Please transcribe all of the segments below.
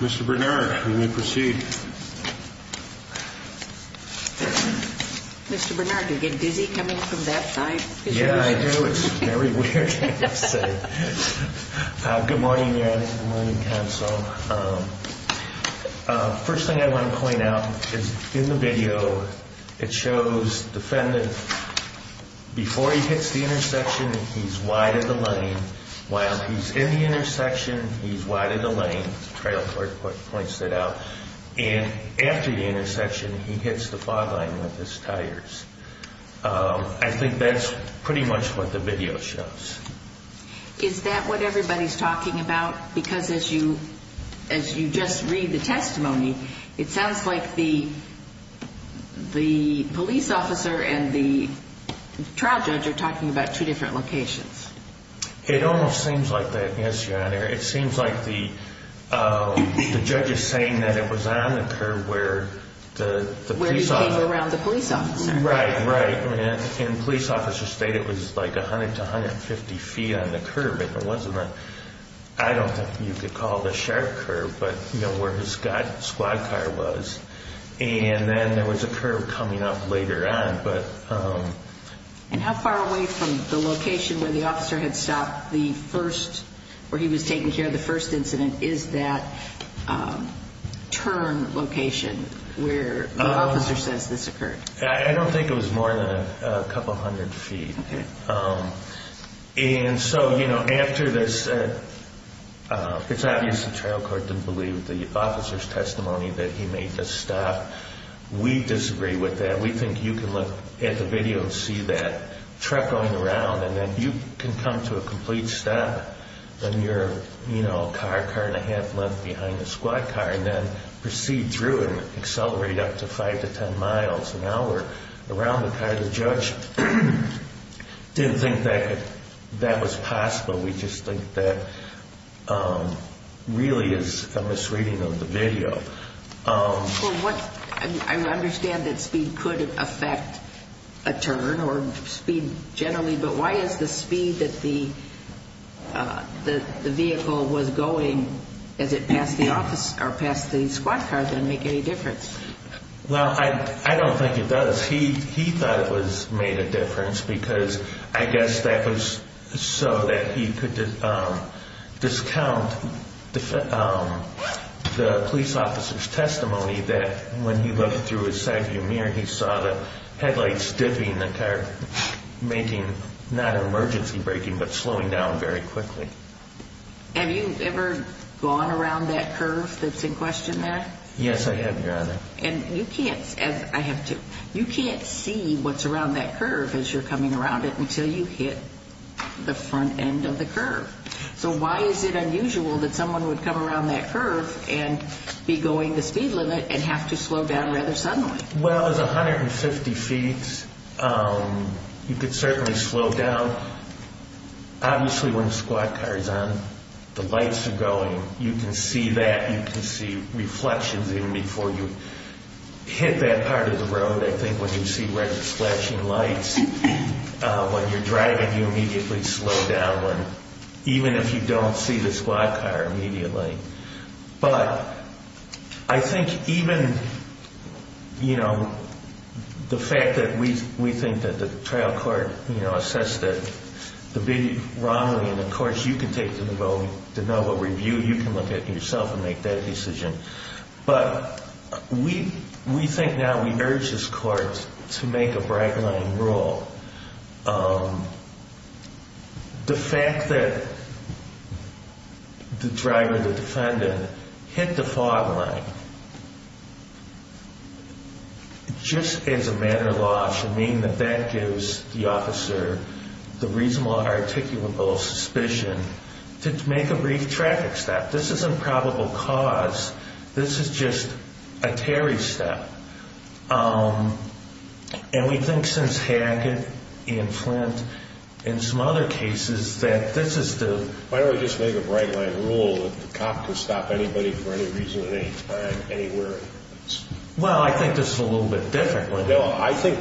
Mr. Bernard, you may proceed. Mr. Bernard, do you get dizzy coming from that side? Yeah, I do. It's very weird, I have to say. Good morning, your Honor. Good morning, counsel. First thing I want to point out is in the video it shows the defendant, before he hits the intersection, he's wide of the lane. While he's in the intersection, he's wide of the lane. The trial court points that out. And after the intersection, he hits the byline with his tires. I think that's pretty much what the video shows. Is that what everybody's talking about? Because as you just read the testimony, it sounds like the police officer and the trial judge are talking about two different locations. It almost seems like that, yes, your Honor. It seems like the judge is saying that it was on the curb where the police officer... Where he came around the police officer. Right, right. And the police officer stated it was like 100 to 150 feet on the curb, and it wasn't a, I don't know if you could call it a sharp curb, but where his squad car was. And then there was a curb coming up later on, but... And how far away from the location where the officer had stopped the first, where he was taking care of the first incident, is that turn location where the officer says this occurred? I don't think it was more than a couple hundred feet. And so, you know, after this, it's obvious the trial court didn't believe the officer's testimony that he made the stop. We disagree with that. We think you can look at the video and see that truck going around, and then you can come to a complete stop, and your car, car and a half left behind the squad car, and then proceed through and accelerate up to 5 to 10 miles an hour around the car. The judge didn't think that that was possible. We just think that really is a misreading of the video. I understand that speed could affect a turn or speed generally, but why is the speed that the vehicle was going as it passed the squad car going to make any difference? Well, I don't think it does. He thought it made a difference because I guess that was so that he could discount the police officer's testimony that when he looked through his side view mirror, he saw the headlights dipping, the car making not an emergency braking, but slowing down very quickly. Have you ever gone around that curve that's in question there? Yes, I have, Your Honor. And you can't, and I have too, you can't see what's around that curve as you're coming around it until you hit the front end of the curve. So why is it unusual that someone would come around that curve and be going the speed limit and have to slow down rather suddenly? Well, it was 150 feet. You could certainly slow down. Obviously, when the squad car is on, the lights are going. You can see that. You can see reflections even before you hit that part of the road. I think when you see red flashing lights when you're driving, you immediately slow down even if you don't see the squad car immediately. But I think even, you know, the fact that we think that the trial court, you know, assessed it wrongly, and, of course, you can take the NOVA review. You can look at it yourself and make that decision. But we think now we urge this court to make a bright line rule. The fact that the driver, the defendant, hit the fog line just as a matter of law should mean that that gives the officer the reasonable articulable suspicion to make a brief traffic stop. This is a probable cause. This is just a Terry step. And we think since Haggett and Flint and some other cases that this is the— Why don't we just make a bright line rule that the cop can stop anybody for any reason at any time, anywhere? Well, I think this is a little bit different. I think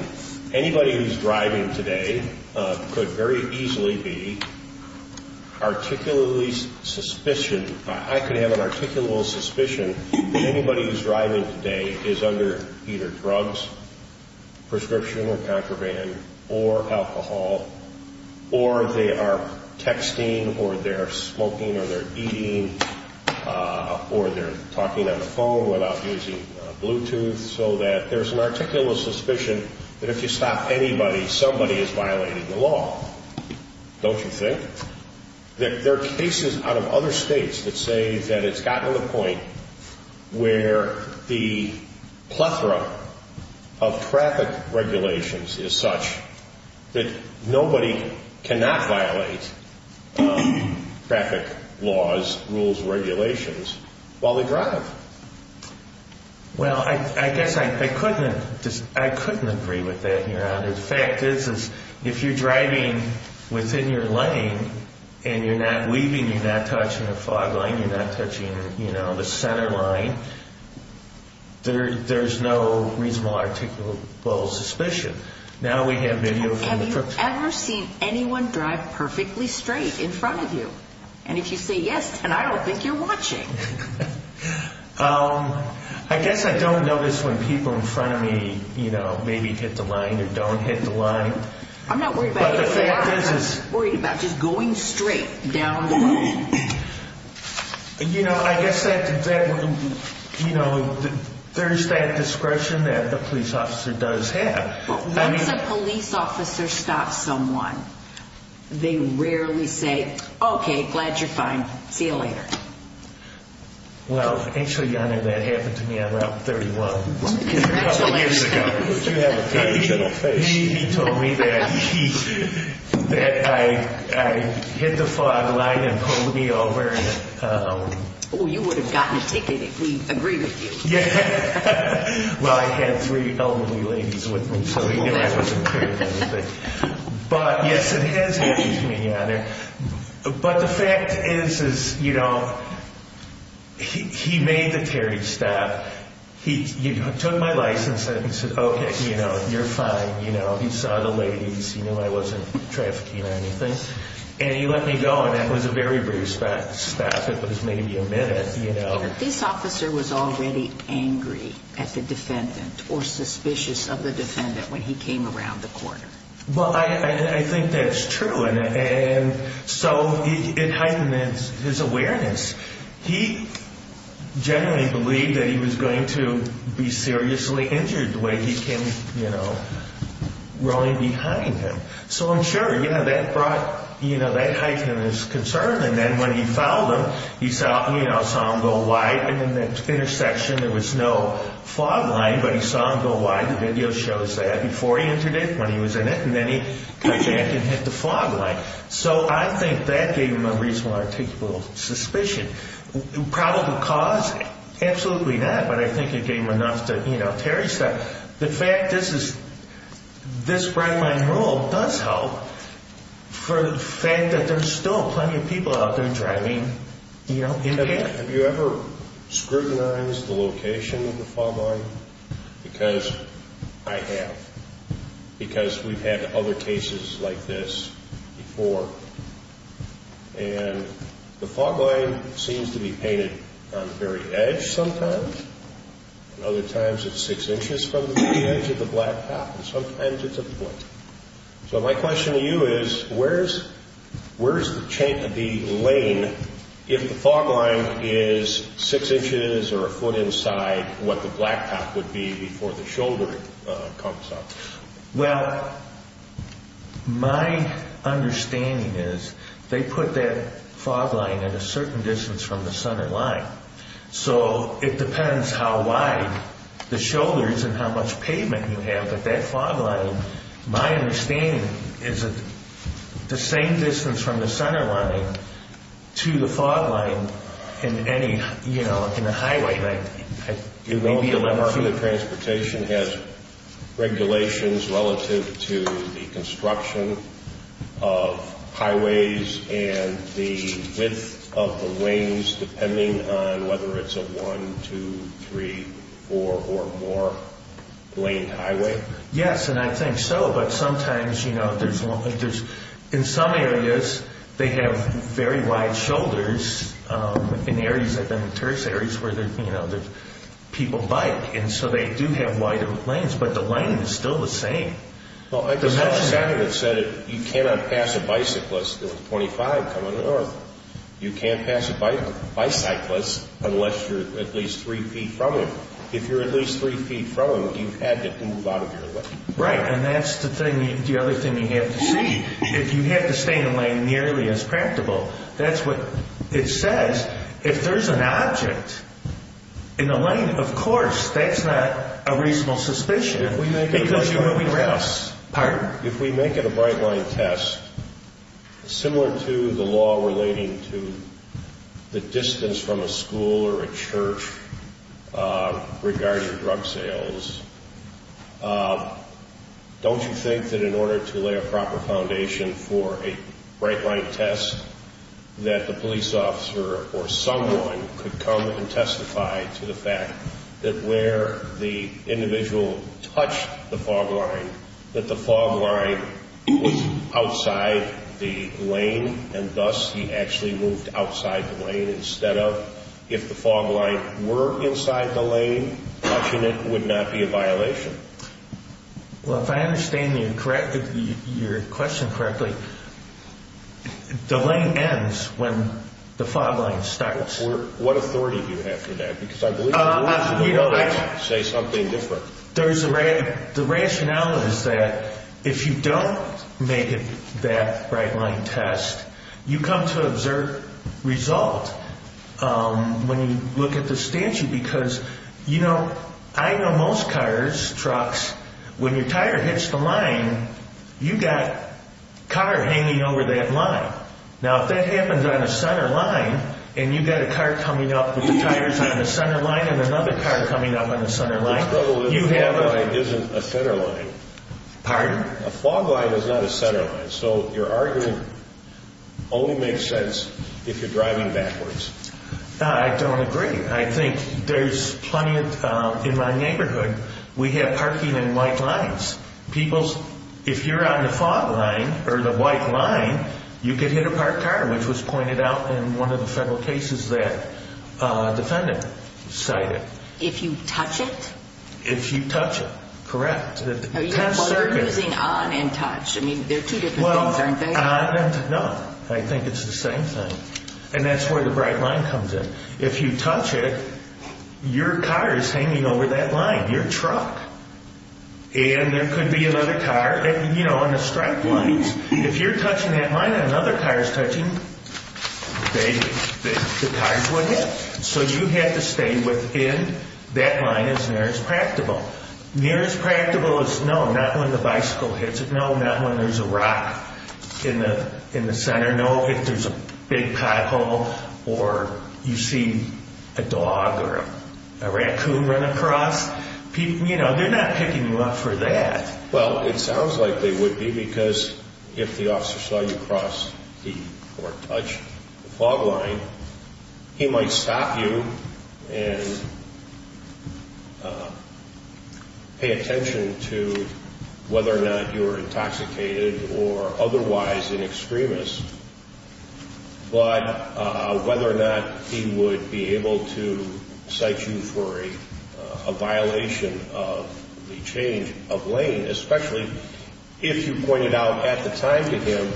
anybody who's driving today could very easily be articulably suspicion. I could have an articulable suspicion that anybody who's driving today is under either drugs, prescription or contraband, or alcohol, or they are texting or they're smoking or they're eating or they're talking on the phone without using Bluetooth, so that there's an articulable suspicion that if you stop anybody, somebody is violating the law. Don't you think? There are cases out of other states that say that it's gotten to the point where the plethora of traffic regulations is such that nobody cannot violate traffic laws, rules, regulations while they drive. Well, I guess I couldn't agree with that, Your Honor. The fact is if you're driving within your lane and you're not leaving, you're not touching a fog line, you're not touching the center line, there's no reasonable articulable suspicion. Have you ever seen anyone drive perfectly straight in front of you? And if you say yes, then I don't think you're watching. I guess I don't notice when people in front of me, you know, maybe hit the line or don't hit the line. I'm not worried about that. I'm just worried about just going straight down the line. You know, I guess there's that discretion that the police officer does have. Once a police officer stops someone, they rarely say, okay, glad you're fine, see you later. Well, actually, Your Honor, that happened to me on Route 31 a couple years ago. He told me that I hit the fog line and pulled me over. Oh, you would have gotten a ticket if we agreed with you. Well, I had three elderly ladies with me, so he knew I was impaired. But, yes, it has happened to me, Your Honor. But the fact is, you know, he made the Terry stop. He took my license and said, okay, you know, you're fine. You know, he saw the ladies. He knew I wasn't trafficking or anything. And he let me go, and that was a very brief stop. It was maybe a minute, you know. But this officer was already angry at the defendant or suspicious of the defendant when he came around the corner. Well, I think that's true, and so it heightens his awareness. He generally believed that he was going to be seriously injured the way he came, you know, rolling behind him. So I'm sure, you know, that brought, you know, that heightened his concern. And then when he fouled him, he saw, you know, saw him go wide. And in that intersection, there was no fog line, but he saw him go wide. The video shows that before he entered it, when he was in it, and then he hijacked and hit the fog line. So I think that gave him a reasonable articulable suspicion. The probable cause, absolutely not, but I think it gave him enough to, you know, Terry stop. The fact this is, this fog line rule does help for the fact that there's still plenty of people out there driving, you know, in there. Have you ever scrutinized the location of the fog line? Because I have. Because we've had other cases like this before. And the fog line seems to be painted on the very edge sometimes. And other times it's six inches from the edge of the blacktop, and sometimes it's a foot. So my question to you is, where's the lane if the fog line is six inches or a foot inside what the blacktop would be before the shoulder comes up? Well, my understanding is they put that fog line at a certain distance from the center line. So it depends how wide the shoulder is and how much pavement you have. But that fog line, my understanding is the same distance from the center line to the fog line in any, you know, in a highway. Do you know if the transportation has regulations relative to the construction of highways and the width of the lanes depending on whether it's a one, two, three, four or more lane highway? Yes, and I think so. But sometimes, you know, in some areas they have very wide shoulders in areas, I've been in tourist areas where, you know, people bike. And so they do have wider lanes. But the lining is still the same. Well, I just had a guy that said you cannot pass a bicyclist. It was 25 coming north. You can't pass a bicyclist unless you're at least three feet from him. If you're at least three feet from him, you've had to move out of your lane. Right, and that's the other thing you have to see. If you have to stay in a lane nearly as practical, that's what it says. If there's an object in the lane, of course, that's not a reasonable suspicion because you're moving around. If we make it a bright line test, similar to the law relating to the distance from a school or a church regarding drug sales, don't you think that in order to lay a proper foundation for a bright line test, that the police officer or someone could come and testify to the fact that where the individual touched the fog line, that the fog line was outside the lane and thus he actually moved outside the lane instead of, if the fog line were inside the lane, touching it would not be a violation? Well, if I understand your question correctly, the lane ends when the fog line starts. What authority do you have for that? Because I believe the rules say something different. The rationale is that if you don't make it that bright line test, you come to an absurd result when you look at the statute. I know most cars, trucks, when your tire hits the line, you've got a car hanging over that line. Now, if that happens on a center line and you've got a car coming up with the tires on the center line and another car coming up on the center line, you have a... The problem is the fog line isn't a center line. Pardon? A fog line is not a center line, so your argument only makes sense if you're driving backwards. I don't agree. I think there's plenty of... In my neighborhood, we have parking in white lines. People's... If you're on the fog line or the white line, you could hit a parked car, which was pointed out in one of the federal cases that a defendant cited. If you touch it? If you touch it, correct. Well, you're using on and touch. I mean, they're two different things, aren't they? On and... No. I think it's the same thing. And that's where the bright line comes in. If you touch it, your car is hanging over that line, your truck. And there could be another car, you know, on the stripe lines. If you're touching that line and another car is touching, the tires will hit. So you have to stay within that line as near as practicable. Near as practicable as... No, not when the bicycle hits it. No, not when there's a rock in the center. No, if there's a big pothole or you see a dog or a raccoon run across. You know, they're not picking you up for that. Well, it sounds like they would be because if the officer saw you cross or touch the fog line, he might stop you and pay attention to whether or not you're intoxicated or otherwise an extremist. But whether or not he would be able to cite you for a violation of the change of lane, especially if you pointed out at the time to him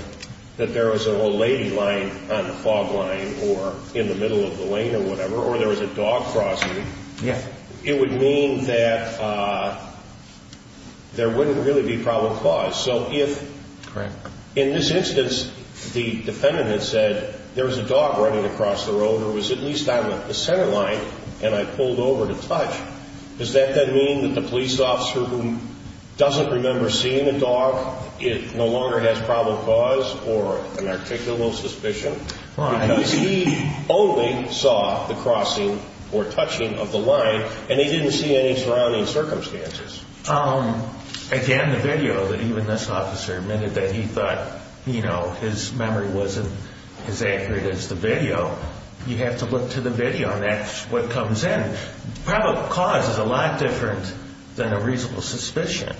that there was an old lady lying on the fog line or in the middle of the lane or whatever, or there was a dog crossing, it would mean that there wouldn't really be problem caused. So if in this instance the defendant had said there was a dog running across the road or was at least on the center line and I pulled over to touch, does that then mean that the police officer who doesn't remember seeing a dog no longer has problem caused or an articulal suspicion? Because he only saw the crossing or touching of the line and he didn't see any surrounding circumstances. Again, the video that even this officer admitted that he thought his memory wasn't as accurate as the video, you have to look to the video and that's what comes in. Problem caused is a lot different than a reasonable suspicion.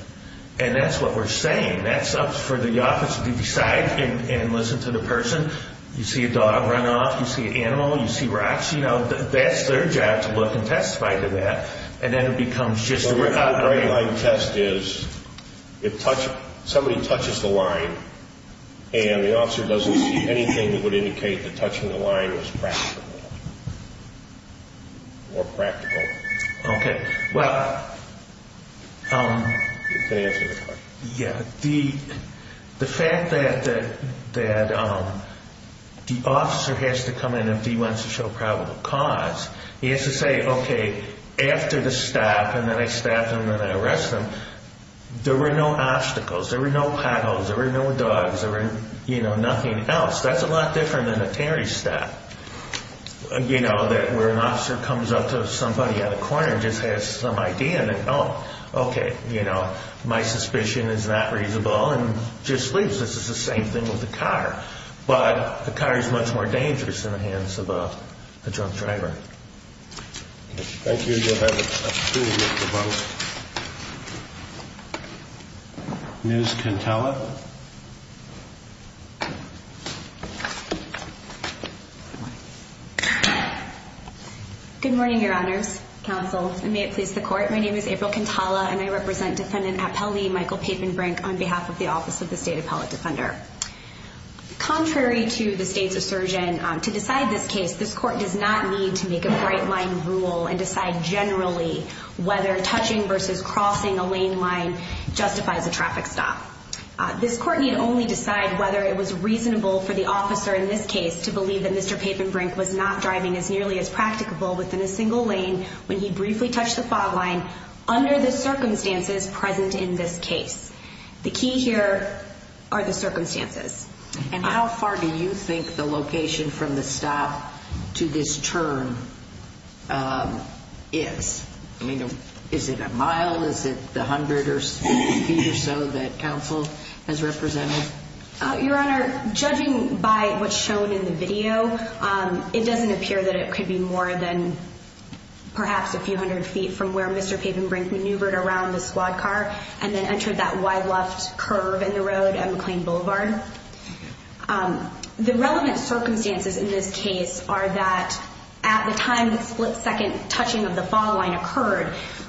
And that's what we're saying. That's up for the officer to decide and listen to the person. You see a dog run off, you see an animal, you see rocks, that's their job to look and testify to that. And then it becomes just a recovery. So the underlying test is somebody touches the line and the officer doesn't see anything that would indicate that touching the line was practical or practical. Okay, well, the fact that the officer has to come in if he wants to show probable cause, he has to say, okay, after the stop, and then I stop him and I arrest him, there were no obstacles, there were no potholes, there were no dogs, there were nothing else. That's a lot different than a Terry stat, you know, where an officer comes up to somebody at a corner and just has some idea, and then, oh, okay, you know, my suspicion is not reasonable and just leaves. This is the same thing with a car. But a car is much more dangerous than the hands of a drunk driver. Thank you. You'll have a few minutes to vote. Ms. Cantalla. Good morning, Your Honors, Counsel, and may it please the Court. My name is April Cantalla, and I represent Defendant Appellee Michael Papenbrink on behalf of the Office of the State Appellate Defender. Contrary to the state's assertion, to decide this case, this Court does not need to make a bright-line rule and decide generally whether touching versus crossing a lane line justifies a traffic stop. This Court need only decide whether it was reasonable for the officer in this case to believe that Mr. Papenbrink was not driving as nearly as practicable within a single lane when he briefly touched the fog line under the circumstances present in this case. The key here are the circumstances. And how far do you think the location from the stop to this turn is? I mean, is it a mile? Is it the hundred or fifty feet or so that counsel has represented? Your Honor, judging by what's shown in the video, it doesn't appear that it could be more than perhaps a few hundred feet from where Mr. Papenbrink maneuvered around the squad car and then entered that wide left curve in the road at McLean Boulevard. The relevant circumstances in this case are that at the time the split-second touching of the fog line occurred,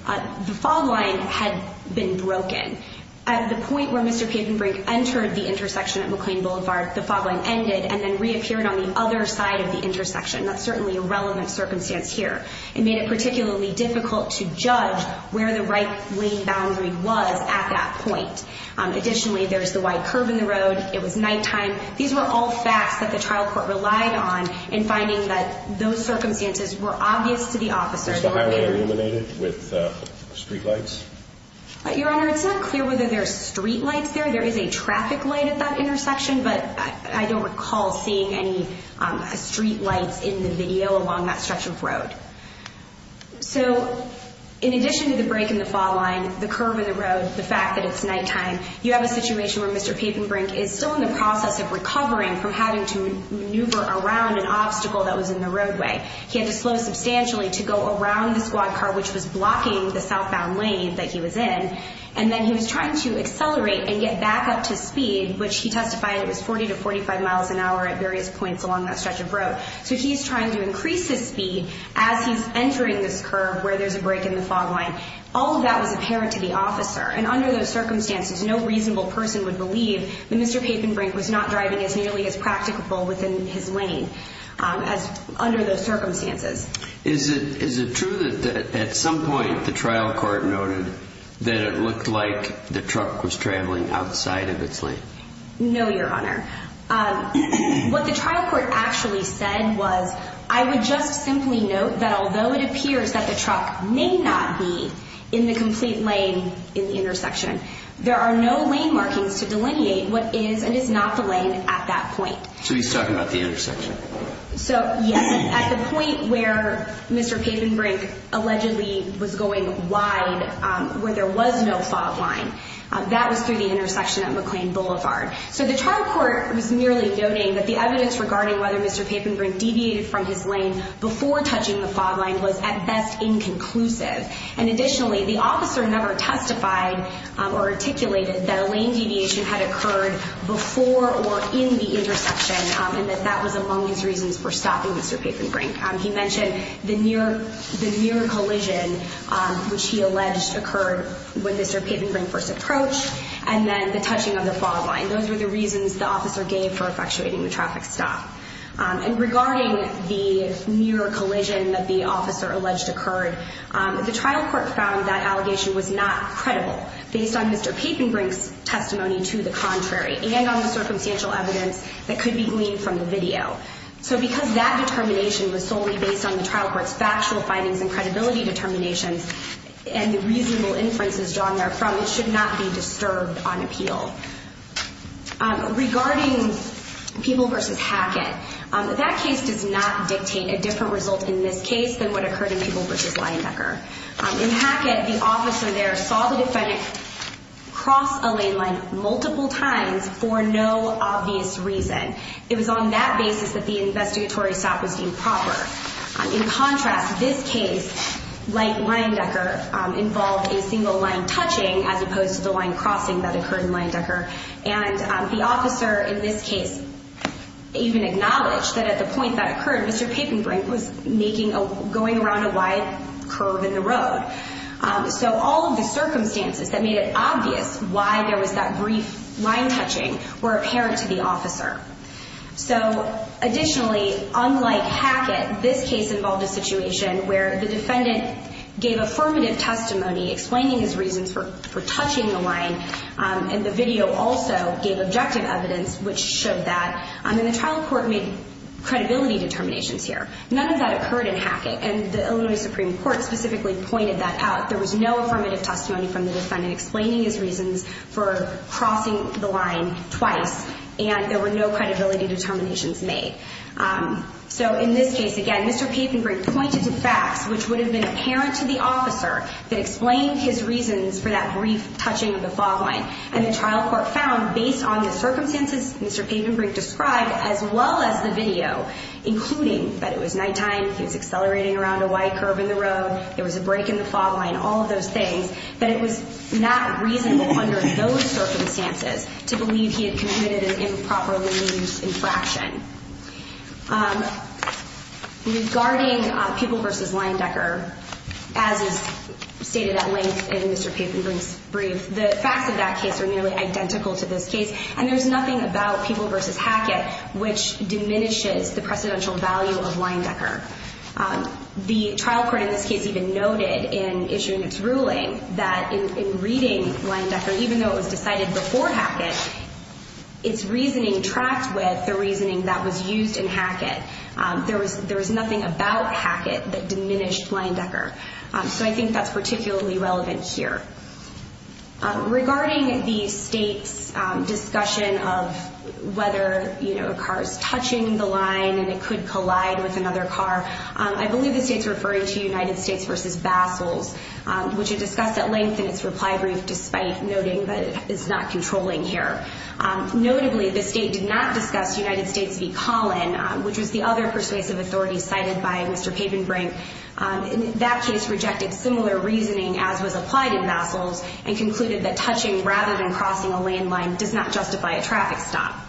the fog line had been broken. At the point where Mr. Papenbrink entered the intersection at McLean Boulevard, the fog line ended and then reappeared on the other side of the intersection. That's certainly a relevant circumstance here. It made it particularly difficult to judge where the right lane boundary was at that point. Additionally, there's the wide curve in the road. It was nighttime. These were all facts that the trial court relied on in finding that those circumstances were obvious to the officers. Was the highway illuminated with streetlights? Your Honor, it's not clear whether there's streetlights there. There is a traffic light at that intersection, but I don't recall seeing any streetlights in the video along that stretch of road. In addition to the break in the fog line, the curve in the road, the fact that it's nighttime, you have a situation where Mr. Papenbrink is still in the process of recovering from having to maneuver around an obstacle that was in the roadway. He had to slow substantially to go around the squad car, which was blocking the southbound lane that he was in, and then he was trying to accelerate and get back up to speed, which he testified it was 40 to 45 miles an hour at various points along that stretch of road. So he's trying to increase his speed as he's entering this curve where there's a break in the fog line. All of that was apparent to the officer, and under those circumstances no reasonable person would believe that Mr. Papenbrink was not driving as nearly as practicable within his lane under those circumstances. Is it true that at some point the trial court noted that it looked like the truck was traveling outside of its lane? No, Your Honor. What the trial court actually said was, I would just simply note that although it appears that the truck may not be in the complete lane in the intersection, there are no lane markings to delineate what is and is not the lane at that point. So he's talking about the intersection. So, yes, at the point where Mr. Papenbrink allegedly was going wide, where there was no fog line, that was through the intersection at McLean Boulevard. So the trial court was merely noting that the evidence regarding whether Mr. Papenbrink deviated from his lane before touching the fog line was at best inconclusive. And additionally, the officer never testified or articulated that a lane deviation had occurred before or in the intersection and that that was among his reasons for stopping Mr. Papenbrink. He mentioned the near collision, which he alleged occurred when Mr. Papenbrink first approached, and then the touching of the fog line. Those were the reasons the officer gave for effectuating the traffic stop. And regarding the near collision that the officer alleged occurred, the trial court found that allegation was not credible based on Mr. Papenbrink's testimony to the contrary and on the circumstantial evidence that could be gleaned from the video. So because that determination was solely based on the trial court's factual findings and credibility determinations and the reasonable inferences drawn therefrom, it should not be disturbed on appeal. Regarding Peeble v. Hackett, that case does not dictate a different result in this case than what occurred in Peeble v. Leyendecker. In Hackett, the officer there saw the defendant cross a lane line multiple times for no obvious reason. It was on that basis that the investigatory stop was deemed proper. In contrast, this case, like Leyendecker, involved a single line touching as opposed to the line crossing that occurred in Leyendecker. And the officer in this case even acknowledged that at the point that occurred, Mr. Papenbrink was going around a wide curve in the road. So all of the circumstances that made it obvious why there was that brief line touching were apparent to the officer. So additionally, unlike Hackett, this case involved a situation where the defendant gave affirmative testimony explaining his reasons for touching the line, and the video also gave objective evidence which showed that. And the trial court made credibility determinations here. None of that occurred in Hackett, and the Illinois Supreme Court specifically pointed that out. There was no affirmative testimony from the defendant explaining his reasons for crossing the line twice, and there were no credibility determinations made. So in this case, again, Mr. Papenbrink pointed to facts which would have been apparent to the officer that explained his reasons for that brief touching of the fog line. And the trial court found, based on the circumstances Mr. Papenbrink described, as well as the video, including that it was nighttime, he was accelerating around a wide curve in the road, there was a break in the fog line, all of those things, that it was not reasonable under those circumstances to believe he had committed an improperly used infraction. Regarding Pupil v. Leyendecker, as is stated at length in Mr. Papenbrink's brief, the facts of that case are nearly identical to this case, and there's nothing about Pupil v. Hackett which diminishes the precedential value of Leyendecker. The trial court in this case even noted in issuing its ruling that in reading Leyendecker, even though it was decided before Hackett, its reasoning tracked with the reasoning that was used in Hackett. There was nothing about Hackett that diminished Leyendecker. So I think that's particularly relevant here. Regarding the State's discussion of whether a car is touching the line and it could collide with another car, I believe the State's referring to United States v. Bassels, which it discussed at length in its reply brief, despite noting that it's not controlling here. Notably, the State did not discuss United States v. Collin, which was the other persuasive authority cited by Mr. Papenbrink. That case rejected similar reasoning as was applied in Bassels and concluded that touching rather than crossing a lane line does not justify a traffic stop.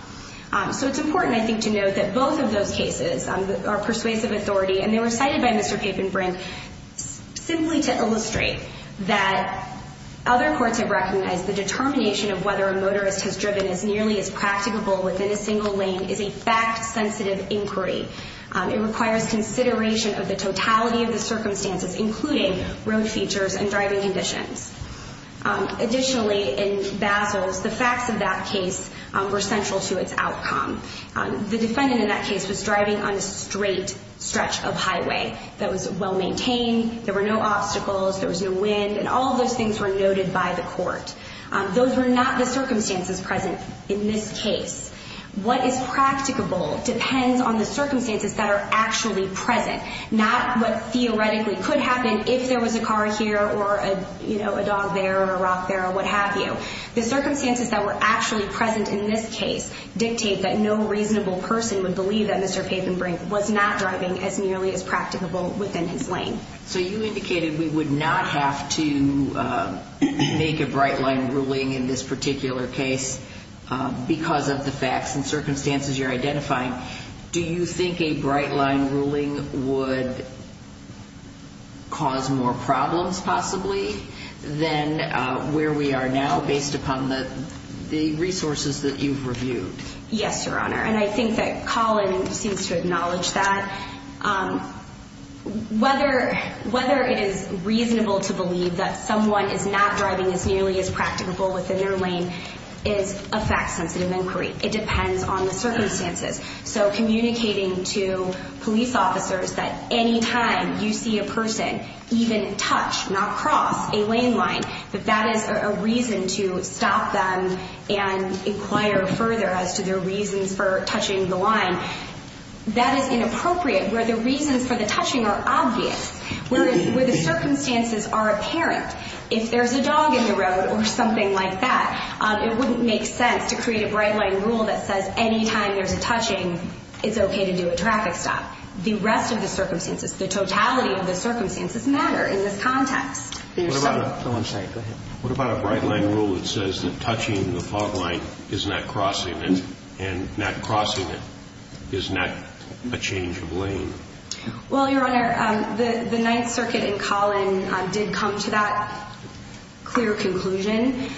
So it's important, I think, to note that both of those cases are persuasive authority and they were cited by Mr. Papenbrink simply to illustrate that other courts have recognized the determination of whether a motorist has driven as nearly as practicable within a single lane is a fact-sensitive inquiry. It requires consideration of the totality of the circumstances, including road features and driving conditions. Additionally, in Bassels, the facts of that case were central to its outcome. The defendant in that case was driving on a straight stretch of highway that was well-maintained, there were no obstacles, there was no wind, and all of those things were noted by the court. Those were not the circumstances present in this case. What is practicable depends on the circumstances that are actually present, not what theoretically could happen if there was a car here or a dog there or a rock there or what have you. The circumstances that were actually present in this case dictate that no reasonable person would believe that Mr. Papenbrink was not driving as nearly as practicable within his lane. So you indicated we would not have to make a bright-line ruling in this particular case because of the facts and circumstances you're identifying. Do you think a bright-line ruling would cause more problems, possibly, than where we are now based upon the resources that you've reviewed? Yes, Your Honor, and I think that Colin seems to acknowledge that. Whether it is reasonable to believe that someone is not driving as nearly as practicable within their lane is a fact-sensitive inquiry. It depends on the circumstances. So communicating to police officers that any time you see a person even touch, not cross, a lane line, that that is a reason to stop them and inquire further as to their reasons for touching the line, that is inappropriate where the reasons for the touching are obvious, where the circumstances are apparent. If there's a dog in the road or something like that, it wouldn't make sense to create a bright-line rule that says any time there's a touching, it's okay to do a traffic stop. The rest of the circumstances, the totality of the circumstances, matter in this context. What about a bright-line rule that says that touching the fog light is not crossing it, and not crossing it is not a change of lane? Well, Your Honor, the Ninth Circuit in Collin did come to that clear conclusion.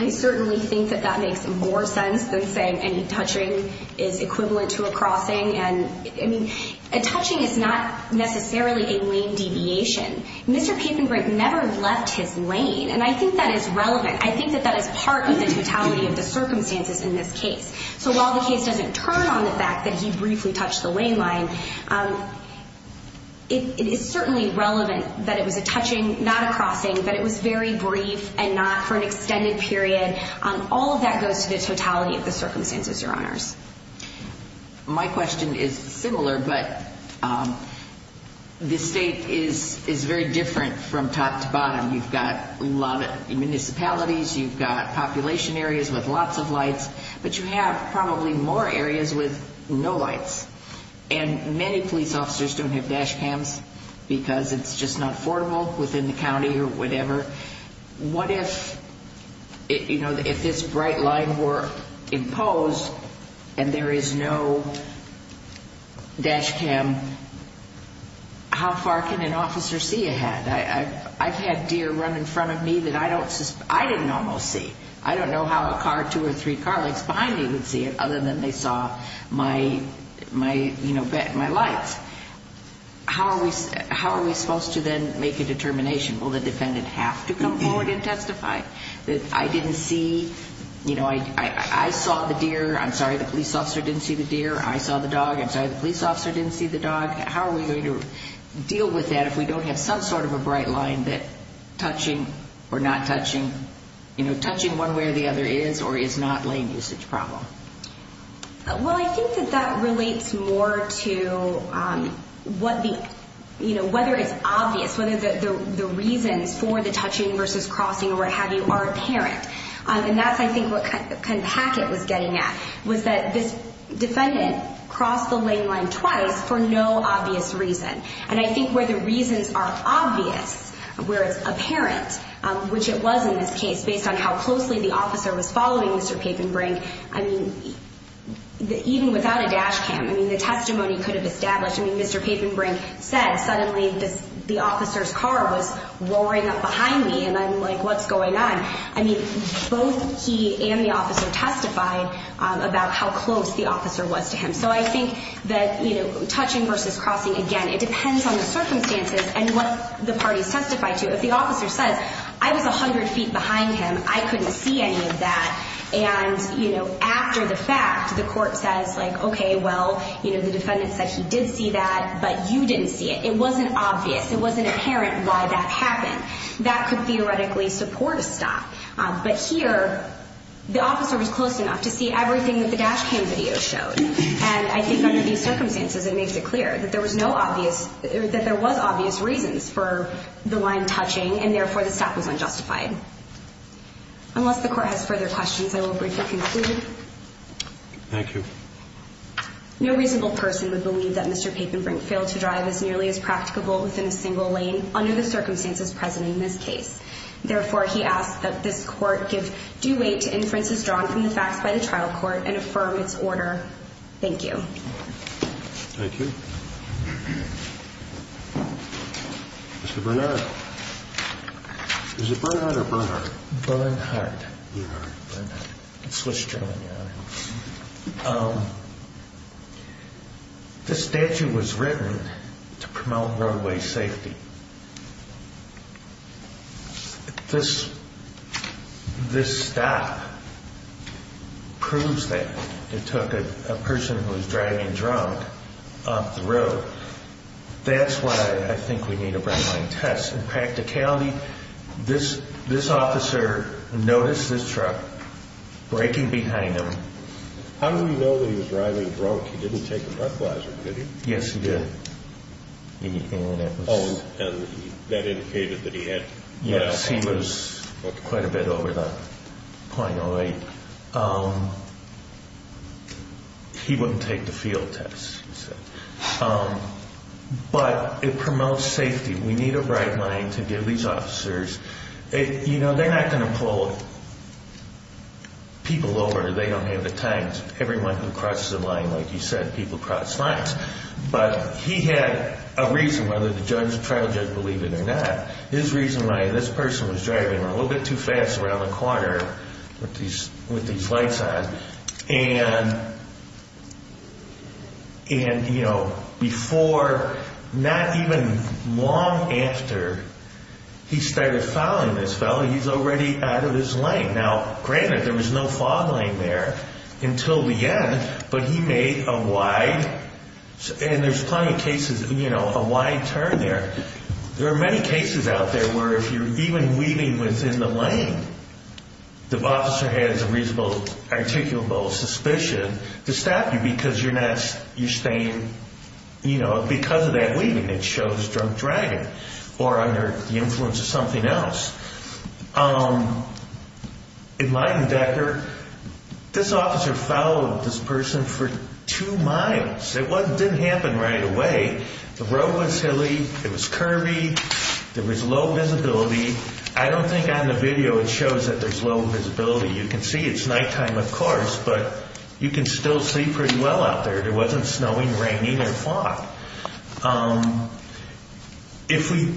I certainly think that that makes more sense than saying any touching is equivalent to a crossing. And, I mean, a touching is not necessarily a lane deviation. Mr. Papenbrook never left his lane, and I think that is relevant. I think that that is part of the totality of the circumstances in this case. So while the case doesn't turn on the fact that he briefly touched the lane line, it is certainly relevant that it was a touching, not a crossing, that it was very brief and not for an extended period. All of that goes to the totality of the circumstances, Your Honors. My question is similar, but the state is very different from top to bottom. You've got a lot of municipalities, you've got population areas with lots of lights, but you have probably more areas with no lights. And many police officers don't have dash cams because it's just not affordable within the county or whatever. What if, you know, if this bright line were imposed and there is no dash cam, how far can an officer see ahead? I've had deer run in front of me that I didn't almost see. I don't know how a car, two or three car lengths behind me would see it other than they saw my lights. How are we supposed to then make a determination? Will the defendant have to come forward and testify? I didn't see, you know, I saw the deer. I'm sorry, the police officer didn't see the deer. I saw the dog. I'm sorry, the police officer didn't see the dog. How are we going to deal with that if we don't have some sort of a bright line that touching or not touching, you know, touching one way or the other is or is not lane usage problem? Well, I think that that relates more to what the, you know, whether it's obvious, whether the reasons for the touching versus crossing or what have you are apparent. And that's, I think, what kind of packet was getting at was that this defendant crossed the lane line twice for no obvious reason. And I think where the reasons are obvious, where it's apparent, which it was in this case based on how closely the officer was following Mr. Papenbrink, I mean, even without a dash cam, I mean, the testimony could have established, I mean, Mr. Papenbrink said suddenly the officer's car was roaring up behind me and I'm like, what's going on? I mean, both he and the officer testified about how close the officer was to him. So I think that, you know, touching versus crossing, again, it depends on the circumstances and what the parties testify to. If the officer says, I was 100 feet behind him, I couldn't see any of that. And, you know, after the fact, the court says like, okay, well, you know, the defendant said he did see that, but you didn't see it. It wasn't obvious. It wasn't apparent why that happened. That could theoretically support a stop. But here the officer was close enough to see everything that the dash cam video showed. And I think under these circumstances it makes it clear that there was no obvious, that there was obvious reasons for the line touching and, therefore, the stop was unjustified. Unless the court has further questions, I will briefly conclude. Thank you. No reasonable person would believe that Mr. Papenbrink failed to drive as nearly as practicable within a single lane under the circumstances present in this case. Therefore, he asks that this court give due weight to inferences drawn from the facts by the trial court and affirm its order. Thank you. Thank you. Mr. Bernhardt. Is it Bernhardt or Bernhardt? Bernhardt. Bernhardt. Bernhardt. In Swiss German, Your Honor. This statute was written to promote roadway safety. This stop proves that it took a person who was driving drunk off the road. That's why I think we need a red line test. In practicality, this officer noticed this truck braking behind him. How do we know that he was driving drunk? He didn't take a breathalyzer, did he? Yes, he did. Oh, and that indicated that he had? Yes, he was quite a bit over the 0.08. He wouldn't take the field test. But it promotes safety. We need a bright line to give these officers. You know, they're not going to pull people over. They don't have the time. Everyone who crosses the line, like you said, people cross lines. But he had a reason whether the trial judge believed it or not. His reason why this person was driving a little bit too fast around the corner with these lights on. And, you know, before, not even long after, he started following this fellow. He's already out of his lane. Now, granted, there was no following there until the end. But he made a wide, and there's plenty of cases, you know, a wide turn there. There are many cases out there where if you're even weaving within the lane, the officer has a reasonable, articulable suspicion to stop you because you're staying, you know, because of that weaving that shows drunk driving or under the influence of something else. In Leidendecker, this officer followed this person for two miles. It didn't happen right away. The road was hilly. It was curvy. There was low visibility. I don't think on the video it shows that there's low visibility. You can see it's nighttime, of course, but you can still see pretty well out there. There wasn't snowing, raining, or fog. If we,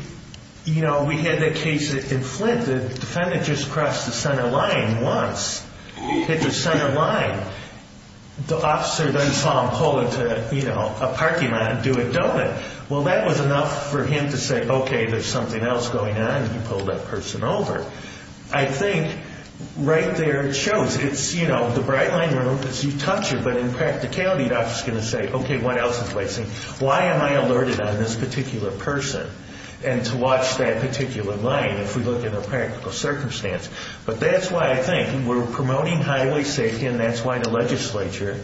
you know, we had that case in Flint. The defendant just crossed the center line once, hit the center line. The officer then saw him pull into, you know, a parking lot and do a donut. Well, that was enough for him to say, okay, there's something else going on. He pulled that person over. I think right there it shows. It's, you know, the bright line is you touch it, but in practicality the officer is going to say, okay, what else is he placing? Why am I alerted on this particular person? And to watch that particular lane if we look at a practical circumstance. But that's why I think we're promoting highway safety, and that's why the legislature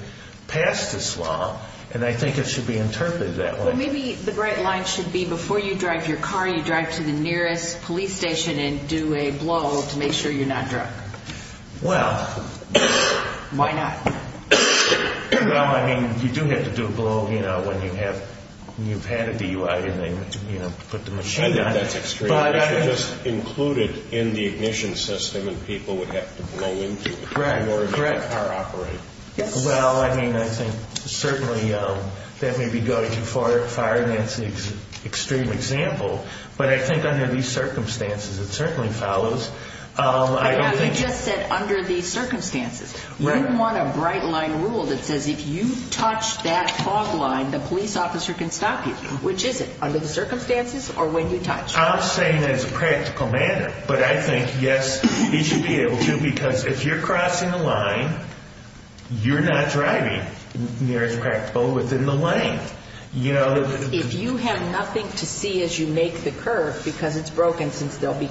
passed this law, and I think it should be interpreted that way. Maybe the bright line should be before you drive your car, you drive to the nearest police station and do a blow to make sure you're not drunk. Well. Why not? Well, I mean, you do have to do a blow, you know, when you've had a DUI and they, you know, put the machine on it. I know that's extreme. But I think. Just include it in the ignition system and people would have to blow into it. Correct. Or a car operator. Yes. Well, I mean, I think certainly that may be going too far and that's an extreme example, but I think under these circumstances it certainly follows. I don't think. You just said under these circumstances. Right. You want a bright line rule that says if you touch that fog line, the police officer can stop you. Which is it? Under the circumstances or when you touch? I'm saying that it's a practical matter. But I think, yes, it should be able to because if you're crossing the line, you're not driving near as practical within the lane. You know. If you have nothing to see as you make the curve because it's broken since there'll be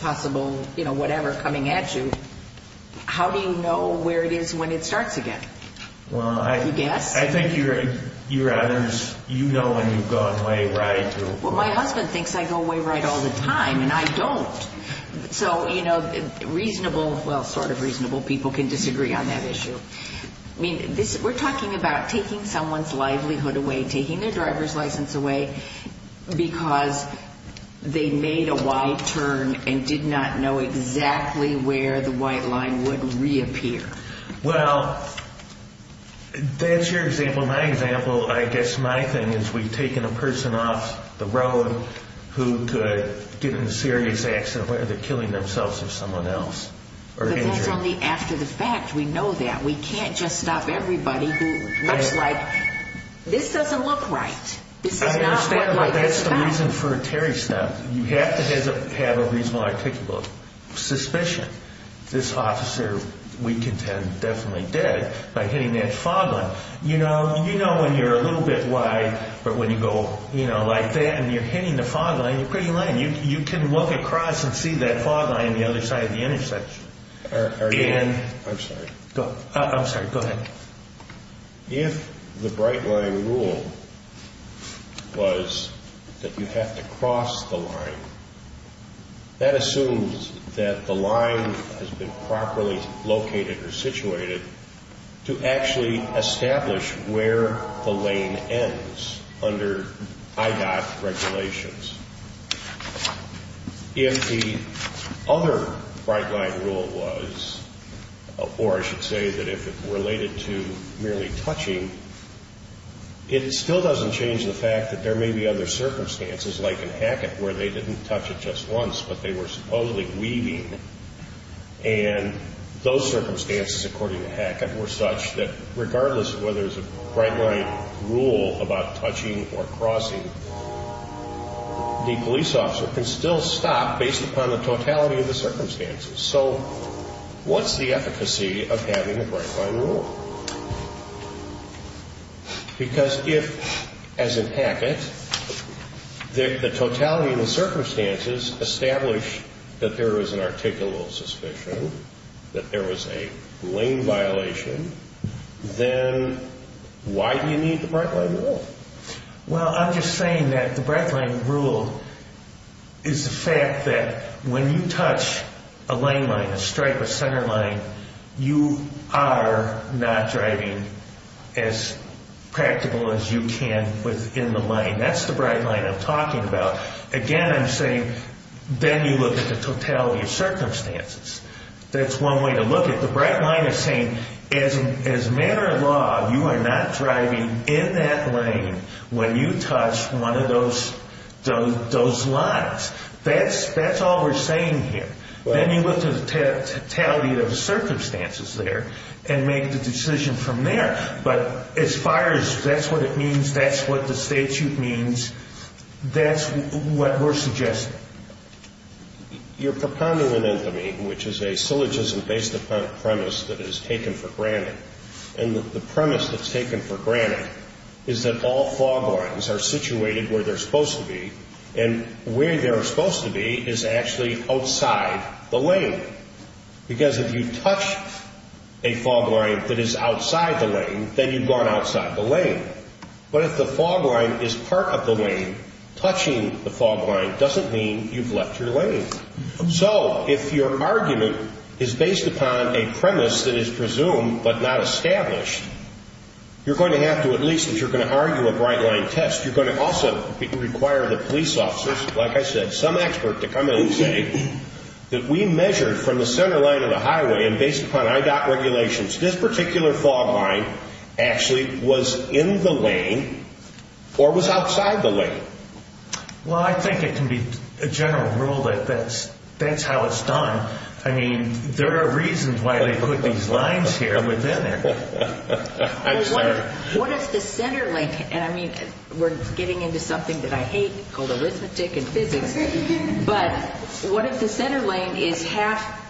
possible, you know, whatever coming at you, how do you know where it is when it starts again? Well, I. You guess? I think you rather, you know when you've gone way right. Well, my husband thinks I go way right all the time and I don't. So, you know, reasonable, well, sort of reasonable people can disagree on that issue. I mean, we're talking about taking someone's livelihood away, taking their driver's license away because they made a wide turn and did not know exactly where the white line would reappear. Well, that's your example. Well, my example, I guess my thing is we've taken a person off the road who could get in a serious accident where they're killing themselves or someone else or injured. But that's only after the fact. We know that. We can't just stop everybody who looks like this doesn't look right. This is not. I understand, but that's the reason for a Terry stop. You have to have a reasonable, articulable suspicion. This officer, we contend, definitely did by hitting that fog light. You know, you know when you're a little bit wide, but when you go like that and you're hitting the fog light, you're pretty light and you can look across and see that fog light on the other side of the intersection. I'm sorry. I'm sorry. Go ahead. If the bright line rule was that you have to cross the line, that assumes that the line has been properly located or situated to actually establish where the lane ends under IDOT regulations. If the other bright line rule was, or I should say that if it related to merely touching, it still doesn't change the fact that there may be other circumstances like in Hackett where they didn't touch it just once, but they were supposedly weaving. And those circumstances, according to Hackett, were such that regardless of whether there's a bright line rule about touching or crossing, the police officer can still stop based upon the totality of the circumstances. So what's the efficacy of having a bright line rule? Because if, as in Hackett, the totality of the circumstances establish that there was an articulal suspicion, that there was a lane violation, then why do you need the bright line rule? Well, I'm just saying that the bright line rule is the fact that when you touch a lane line, a stripe, a center line, you are not driving as practical as you can within the lane. That's the bright line I'm talking about. Again, I'm saying then you look at the totality of circumstances. That's one way to look at it. The bright line is saying as a matter of law, you are not driving in that lane when you touch one of those lines. That's all we're saying here. Then you look at the totality of the circumstances there and make the decision from there. But as far as that's what it means, that's what the statute means, that's what we're suggesting. You're prepondering an infamy, which is a syllogism based upon a premise that is taken for granted. And the premise that's taken for granted is that all fog lines are situated where they're supposed to be, and where they're supposed to be is actually outside the lane. Because if you touch a fog line that is outside the lane, then you've gone outside the lane. But if the fog line is part of the lane, touching the fog line doesn't mean you've left your lane. So if your argument is based upon a premise that is presumed but not established, you're going to have to at least, if you're going to argue a bright line test, you're going to also require the police officers, like I said, some expert to come in and say that we measured from the center line of the highway and based upon IDOT regulations, this particular fog line actually was in the lane or was outside the lane. Well, I think it can be a general rule that that's how it's done. I mean, there are reasons why they put these lines here, but they're there. I'm sorry. What if the center lane, and I mean, we're getting into something that I hate called arithmetic and physics, but what if the center lane is half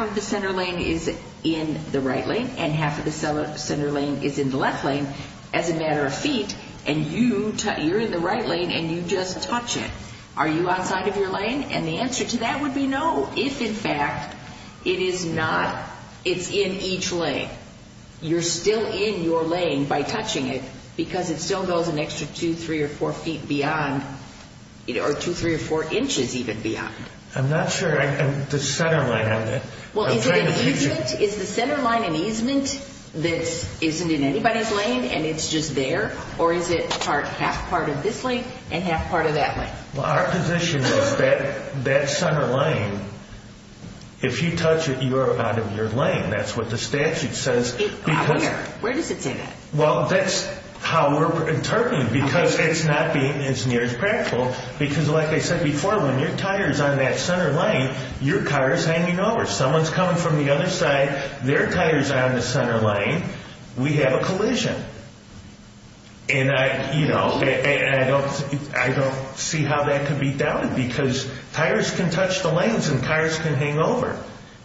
of the center lane is in the right lane and half of the center lane is in the left lane as a matter of feet, and you're in the right lane and you just touch it? Are you outside of your lane? And the answer to that would be no if, in fact, it is not. It's in each lane. You're still in your lane by touching it because it still goes an extra two, three, or four feet beyond or two, three, or four inches even beyond. I'm not sure the center line of it. Well, is it an easement? Is the center line an easement that isn't in anybody's lane and it's just there? Or is it half part of this lane and half part of that lane? Well, our position is that that center lane, if you touch it, you are out of your lane. That's what the statute says. Where? Where does it say that? Well, that's how we're interpreting because it's not being as near as practical because, like I said before, when your tire is on that center lane, your car is hanging over. Someone is coming from the other side, their tire is on the center lane, we have a collision. And, you know, I don't see how that could be doubted because tires can touch the lanes and cars can hang over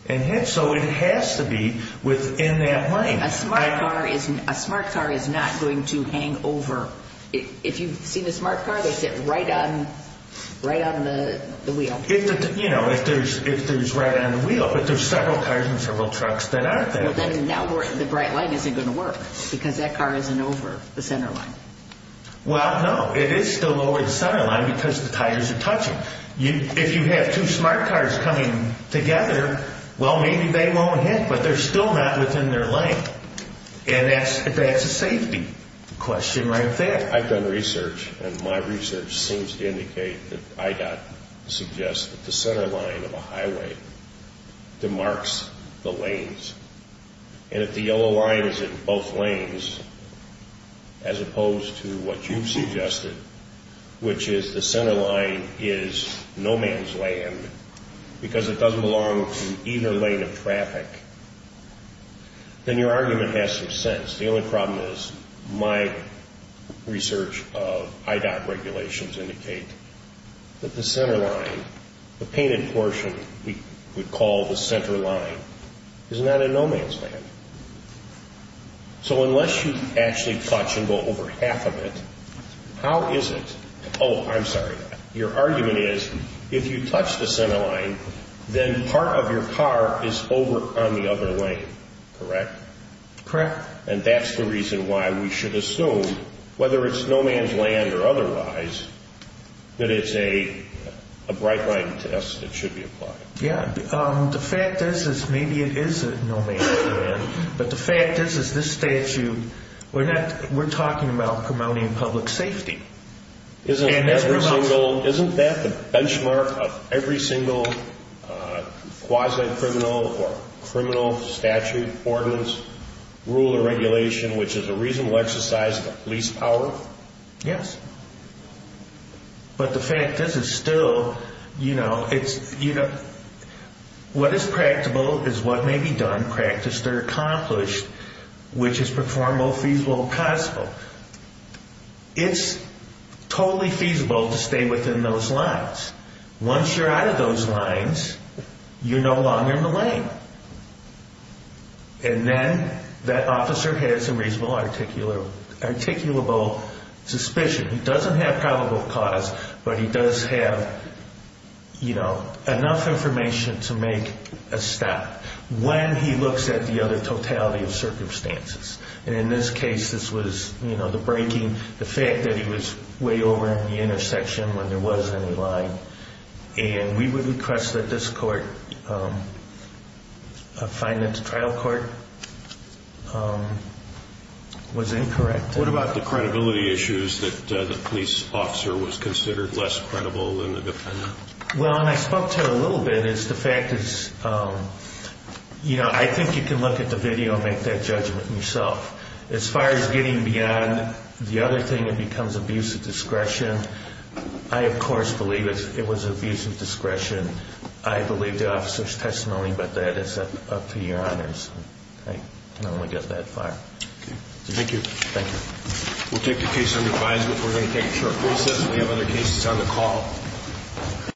and hit, so it has to be within that lane. A smart car is not going to hang over. If you've seen a smart car, they sit right on the wheel. You know, if there's right on the wheel, but there's several cars and several trucks that aren't there. Now the bright line isn't going to work because that car isn't over the center line. Well, no, it is still over the center line because the tires are touching. If you have two smart cars coming together, well, maybe they won't hit, but they're still not within their lane, and that's a safety question right there. I've done research, and my research seems to indicate that IDOT suggests that the center line of a highway demarks the lanes. And if the yellow line is in both lanes, as opposed to what you've suggested, which is the center line is no man's land because it doesn't belong to either lane of traffic, then your argument has some sense. The only problem is my research of IDOT regulations indicate that the center line, the painted portion we would call the center line, is not a no man's land. So unless you actually touch and go over half of it, how is it? Oh, I'm sorry. Your argument is if you touch the center line, then part of your car is over on the other lane, correct? Correct. And that's the reason why we should assume, whether it's no man's land or otherwise, that it's a bright line test that should be applied. Yeah. The fact is maybe it is a no man's land, but the fact is this statute, we're talking about promoting public safety. Isn't that the benchmark of every single quasi-criminal or criminal statute, ordinance, rule, or regulation which is a reasonable exercise of the police power? Yes. But the fact is it's still, you know, what is practicable is what may be done, practiced, or accomplished, which is preformable, feasible, or causable. It's totally feasible to stay within those lines. Once you're out of those lines, you're no longer in the lane. And then that officer has a reasonable articulable suspicion. He doesn't have probable cause, but he does have, you know, enough information to make a stop. When he looks at the other totality of circumstances, and in this case this was, you know, the breaking, the fact that he was way over at the intersection when there was any line. And we would request that this court find that the trial court was incorrect. What about the credibility issues that the police officer was considered less credible than the defendant? Well, and I spoke to it a little bit, is the fact is, you know, I think you can look at the video and make that judgment yourself. As far as getting beyond the other thing that becomes abuse of discretion, I, of course, believe it was abuse of discretion. I believe the officer's testimony, but that is up to your honors. I can only get that far. Okay. Thank you. Thank you. We'll take the case under revised, but we're going to take a short recess. We have other cases on the call.